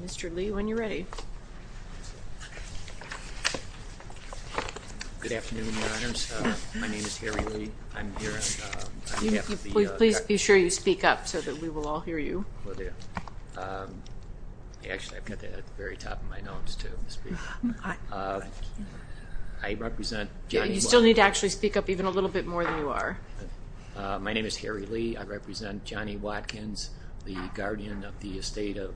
Mr. Lee, when you are ready, please be sure you speak up so that we will all hear you. You still need to actually speak up even a little bit more than you are. My name is Harry Lee. I represent Johnny Watkins, the guardian of the estate of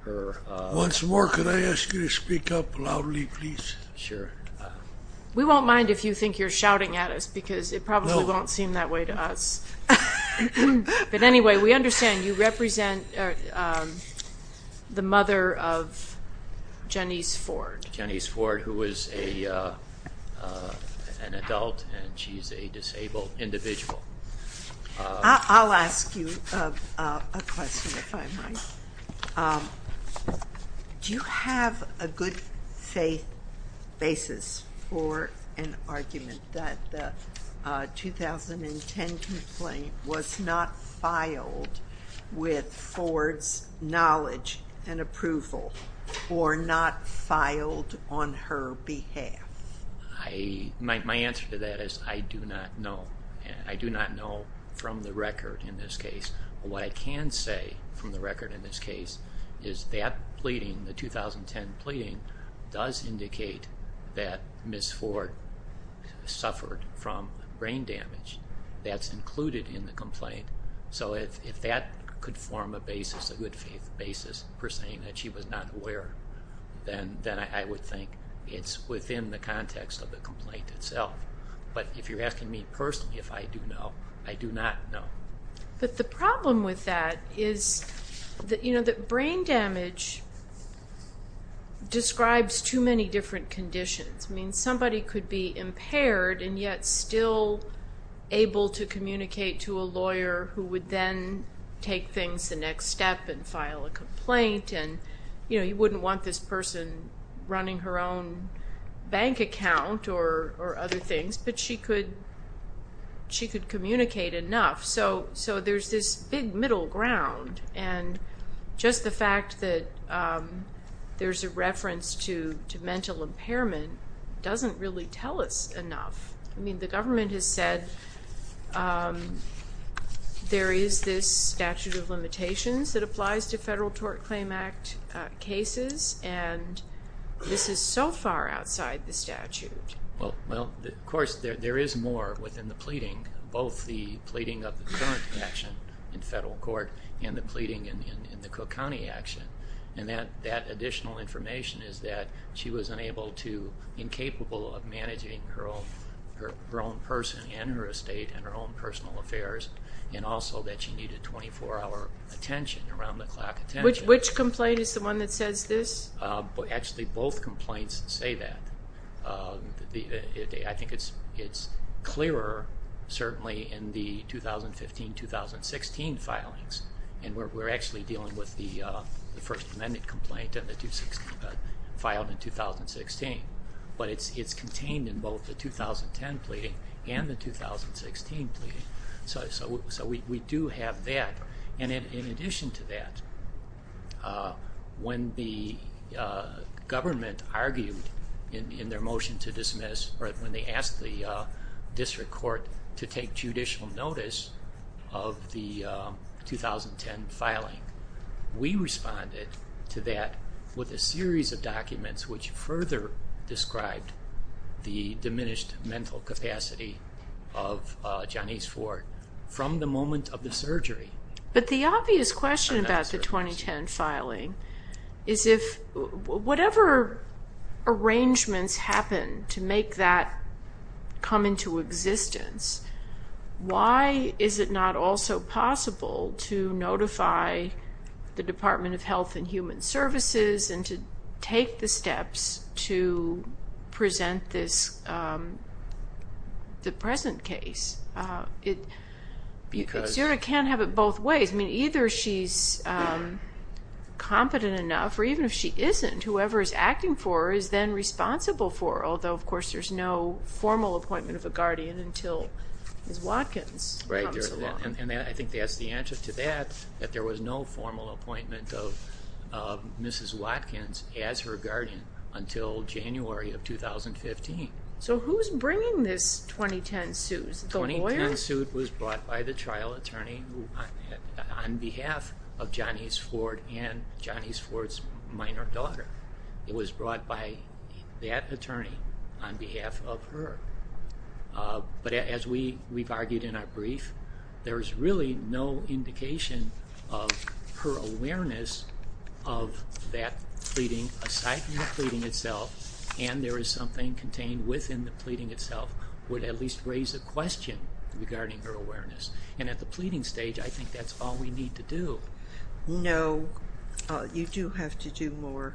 her... Once more, could I ask you to speak up loudly, please? Sure. We won't mind if you think you're shouting at us, because it probably won't seem that way to us. But anyway, we understand you represent the mother of Jenice Ford. Jenice Ford, who is an adult and she is a disabled individual. I'll ask you a question, if I might. Do you have a good faith basis for an argument that the 2010 complaint was not filed with Ford's knowledge and approval, or not filed on her behalf? My answer to that is I do not know. I do not know from the record in this case. What I can say from the record in this case is that pleading, the 2010 pleading, does indicate that Ms. Ford suffered from brain damage. That's included in the complaint. So if that could form a basis, a good faith basis for saying that she was not aware, then I would think it's within the context of the complaint itself. But if you're asking me personally if I do know, I do not know. But the problem with that is that brain damage describes too many different conditions. I mean, somebody could be impaired and yet still able to communicate to a lawyer who would then take things the next step and file a complaint. You wouldn't want this person running her own bank account or other things, but she could communicate enough. So there's this big middle ground. And just the fact that there's a reference to mental impairment doesn't really tell us enough. I mean, the government has said there is this statute of limitations that applies to Federal Tort Claim Act cases, and this is so far outside the statute. Well, of course, there is more within the pleading, both the pleading of the current action in federal court and the pleading in the Cook County action. And that additional information is that she was unable to, incapable of, managing her own person and her estate and her own personal affairs, and also that she needed 24-hour attention, around-the-clock attention. Which complaint is the one that says this? Actually, both complaints say that. I think it's clearer, certainly, in the 2015-2016 filings. And we're actually dealing with the First Amendment complaint filed in 2016. But it's contained in both the 2010 pleading and the 2016 pleading. So we do have that. And in addition to that, when the government argued in their motion to dismiss, or when they asked the district court to take judicial notice of the 2010 filing, we responded to that with a series of documents which further described the diminished mental capacity of Janice Ford from the moment of the surgery. But the obvious question about the 2010 filing is, if whatever arrangements happen to make that come into existence, why is it not also possible to notify the Department of Health and Human Services and to take the steps to present the present case? Zura can't have it both ways. Either she's competent enough, or even if she isn't, whoever is acting for her is then responsible for her. Although, of course, there's no formal appointment of a guardian until Ms. Watkins comes along. And I think that's the answer to that, that there was no formal appointment of Mrs. Watkins as her guardian until January of 2015. So who's bringing this 2010 suit? The lawyer? The 2010 suit was brought by the trial attorney on behalf of Janice Ford and Janice Ford's minor daughter. It was brought by that attorney on behalf of her. But as we've argued in our brief, there's really no indication of her awareness of that pleading aside from the pleading itself, and there is something contained within the pleading itself would at least raise a question regarding her awareness. And at the pleading stage, I think that's all we need to do. No. You do have to do more.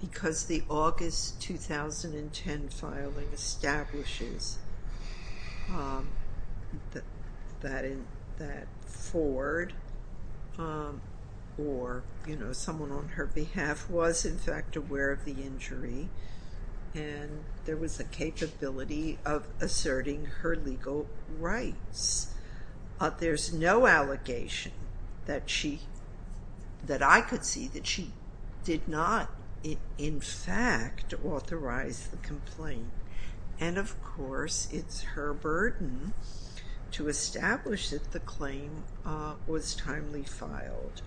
Because the August 2010 filing establishes that Ford or, you know, someone on her behalf was in fact aware of the injury and there was a capability of asserting her legal rights. There's no allegation that she, that I could see that she did not in fact authorize the complaint. And of course, it's her burden to establish that the claim was timely filed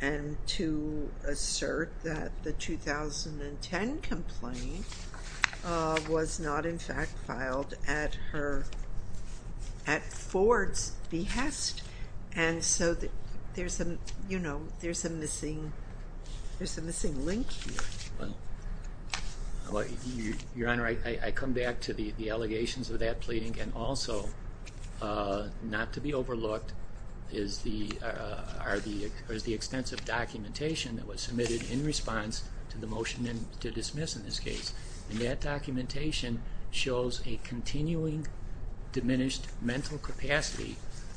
and to assert that the 2010 complaint was not in fact filed at her, at Ford's behest. And so there's a, you know, there's a missing link here. Well, Your Honor, I come back to the allegations of that pleading and also not to be overlooked is the extensive documentation that was submitted in response to the motion to dismiss in this case. And that documentation shows a continuing diminished mental capacity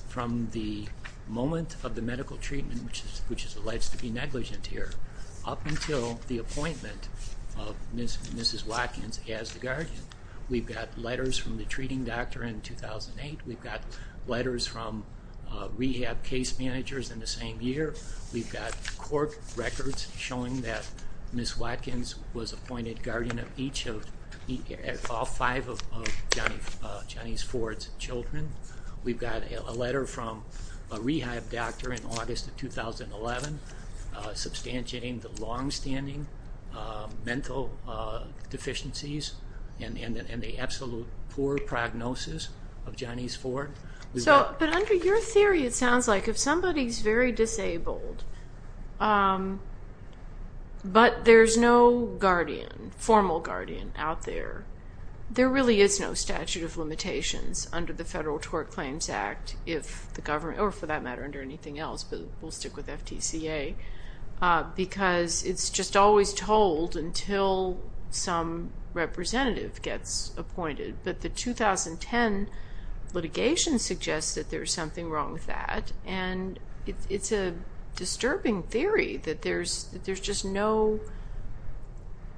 from the moment of the medical treatment, which is alleged to be negligent here, up until the appointment of Mrs. Watkins as the guardian. We've got letters from the treating doctor in 2008. We've got letters from rehab case managers in the same year. We've got court records showing that Ms. Watkins was appointed guardian of all five of Johnny's Ford's children. We've got a letter from a rehab doctor in August of 2011, substantiating the longstanding mental deficiencies and the absolute poor prognosis of Johnny's Ford. So, but under your theory, it sounds like if somebody's very disabled, but there's no guardian, formal guardian out there, there really is no statute of limitations under the Federal Tort Claims Act, if the government, or for that matter, under anything else, but we'll stick with FTCA, because it's just always told until some representative gets appointed. But the 2010 litigation suggests that there's something wrong with that, and it's a disturbing theory that there's just no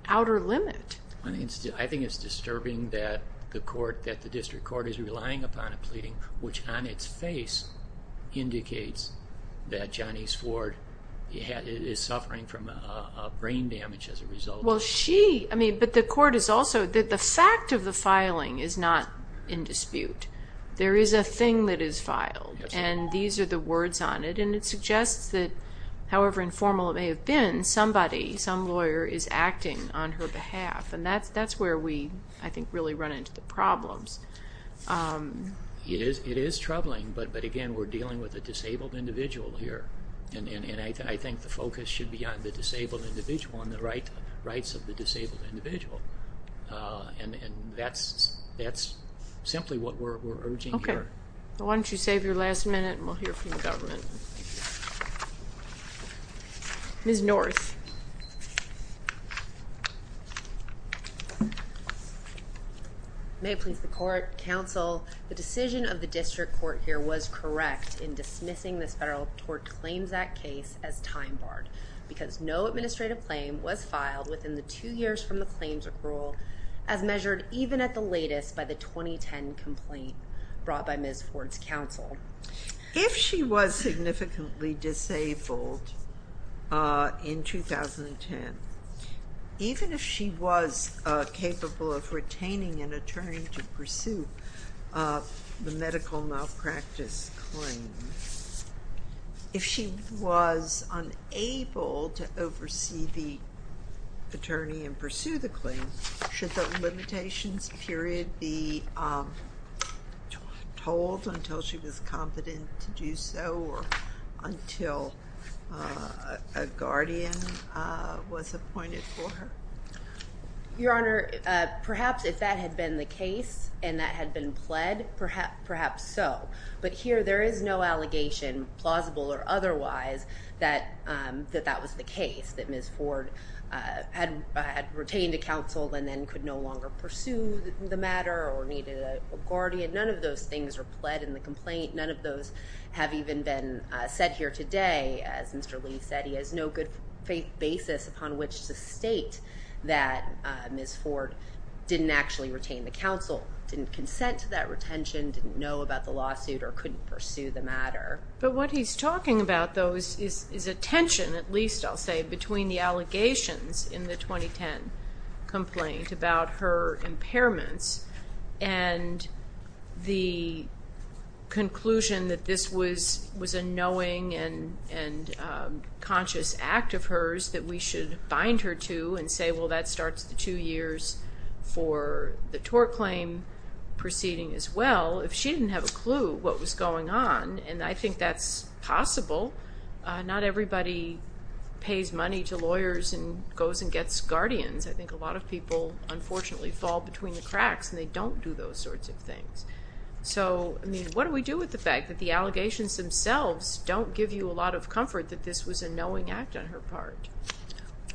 outer limit. I think it's disturbing that the court, that the district court is relying upon a pleading, which on its face indicates that Johnny's Ford is suffering from brain damage as a result. Well, she, I mean, but the court is also, the fact of the filing is not in dispute. There is a thing that is filed, and these are the words on it, and it suggests that, however informal it may have been, somebody, some lawyer is acting on her behalf, and that's where we, I think, really run into the problems. It is troubling, but again, we're dealing with a disabled individual here, and I think the focus should be on the disabled individual and on the rights of the disabled individual, and that's simply what we're urging here. Okay, why don't you save your last minute, and we'll hear from the government. Ms. North. May it please the court, counsel, the decision of the district court here was correct in dismissing this Federal Tort Claims Act case as time barred, because no administrative claim was filed within the two years from the claims accrual, as measured even at the latest by the 2010 complaint brought by Ms. Ford's counsel. If she was significantly disabled in 2010, even if she was capable of retaining an attorney to pursue the medical malpractice claim, if she was unable to oversee the attorney and pursue the claim, should the limitations period be told until she was confident to do so, or until a guardian was appointed for her? Your Honor, perhaps if that had been the case, and that had been pled, perhaps so. But here, there is no allegation, plausible or otherwise, that that was the case, that Ms. Ford had retained a counsel and then could no longer pursue the matter or needed a guardian. None of those things were pled in the complaint. None of those have even been said here today. As Mr. Lee said, he has no good faith basis upon which to state that Ms. Ford didn't actually retain the counsel, didn't consent to that retention, didn't know about the lawsuit or couldn't pursue the matter. But what he's talking about, though, is a tension, at least I'll say, between the allegations in the 2010 complaint about her impairments and the conclusion that this was a knowing and conscious act of hers that we should bind her to and say, well, that starts the two years for the tort claim proceeding as well. If she didn't have a clue what was going on, and I think that's possible, not everybody pays money to lawyers and goes and gets guardians. I think a lot of people, unfortunately, fall between the cracks and they don't do those sorts of things. So, I mean, what do we do with the fact that the allegations themselves don't give you a lot of comfort that this was a knowing act on her part?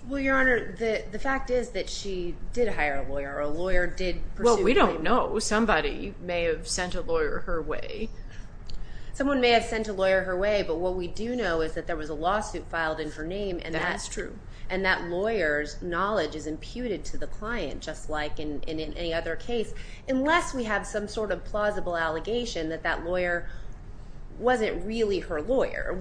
Well, Your Honor, the fact is that she did hire a lawyer, or a lawyer did pursue a claim. Well, we don't know. Somebody may have sent a lawyer her way. Someone may have sent a lawyer her way, but what we do know is that there was a lawsuit filed in her name and that lawyer's knowledge is imputed to the client, just like in any other case, that that lawyer wasn't really her lawyer,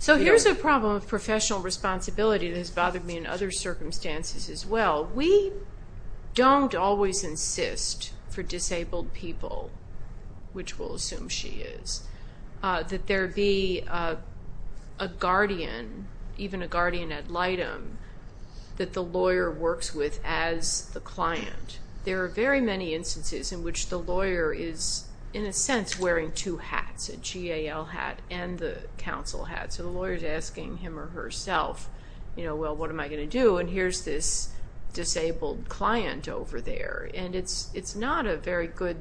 So here's a problem of professional responsibility that has bothered me in other circumstances as well. We don't always insist for disabled people, which we'll assume she is, that there be a guardian, even a guardian ad litem, that the lawyer works with as the client. There are very many instances in which the lawyer is, in a sense, wearing two hats, a GAL hat, and the counsel hat, so the lawyer's asking him or herself, you know, well, what am I going to do? And here's this disabled client over there, and it's not a very good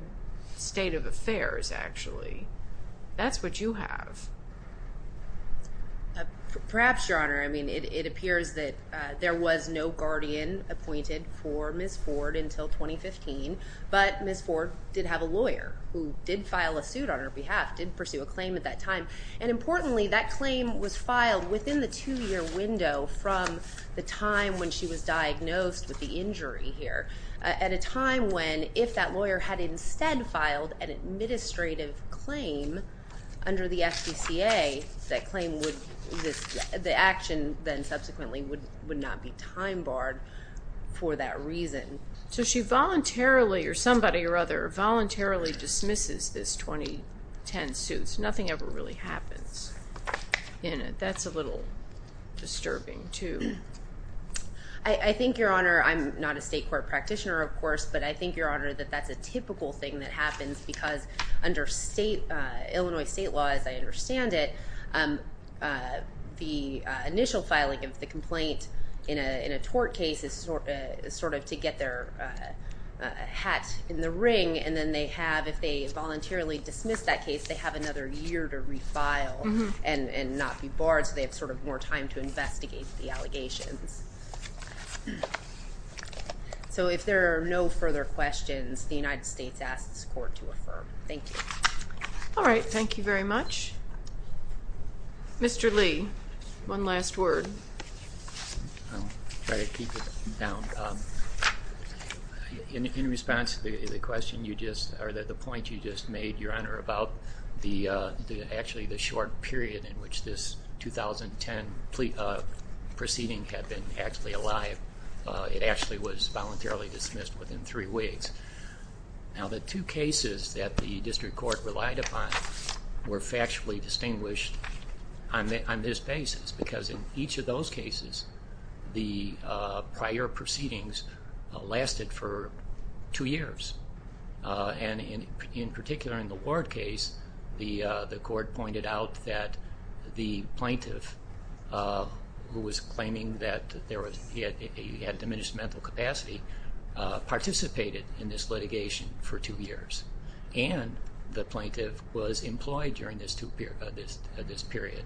state of affairs, actually. That's what you have. Perhaps, Your Honor, I mean, it appears that there was no guardian appointed for Ms. Ford until 2015, but Ms. Ford did have a lawyer who did file a suit on her behalf, did pursue a claim at that time, and importantly, that claim was filed within the two-year window from the time when she was diagnosed with the injury here, at a time when, if that lawyer had instead filed an administrative claim under the FDCA, that claim would, the action then subsequently would not be time-barred for that reason. So she voluntarily, or somebody or other, voluntarily dismisses this 2010 suit, so nothing ever really happens in it. That's a little disturbing, too. I think, Your Honor, I'm not a state court practitioner, of course, but I think, Your Honor, that that's a typical thing that happens because under Illinois state law, as I understand it, the initial filing of the complaint in a tort case is sort of to get their hat in the ring, and then they have, if they voluntarily dismiss that case, they have another year to refile and not be barred, so they have sort of more time to investigate the allegations. So if there are no further questions, the United States asks this Court to affirm. Thank you. All right. Thank you very much. Mr. Lee, one last word. I'll try to keep it down. In response to the point you just made, Your Honor, about actually the short period in which this 2010 proceeding had been actually alive, it actually was voluntarily dismissed within three weeks. Now, the two cases that the district court relied upon were factually distinguished on this basis because in each of those cases the prior proceedings lasted for two years, and in particular in the Ward case, the court pointed out that the plaintiff, who was claiming that he had diminished mental capacity, participated in this litigation for two years, and the plaintiff was employed during this period.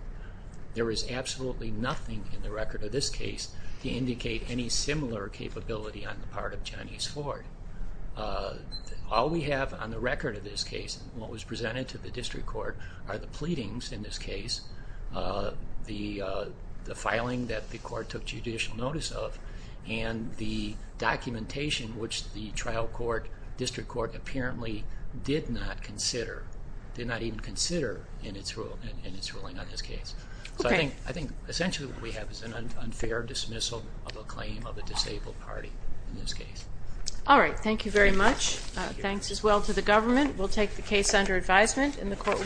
There is absolutely nothing in the record of this case to indicate any similar capability on the part of Johnny's Ward. All we have on the record of this case, and what was presented to the district court, are the pleadings in this case, the filing that the court took judicial notice of, and the documentation which the trial court, district court, apparently did not even consider in its ruling on this case. So I think essentially what we have is an unfair dismissal of a claim of a disabled party in this case. All right. Thank you very much. Thanks as well to the government. We'll take the case under advisement, and the court will be adjourned.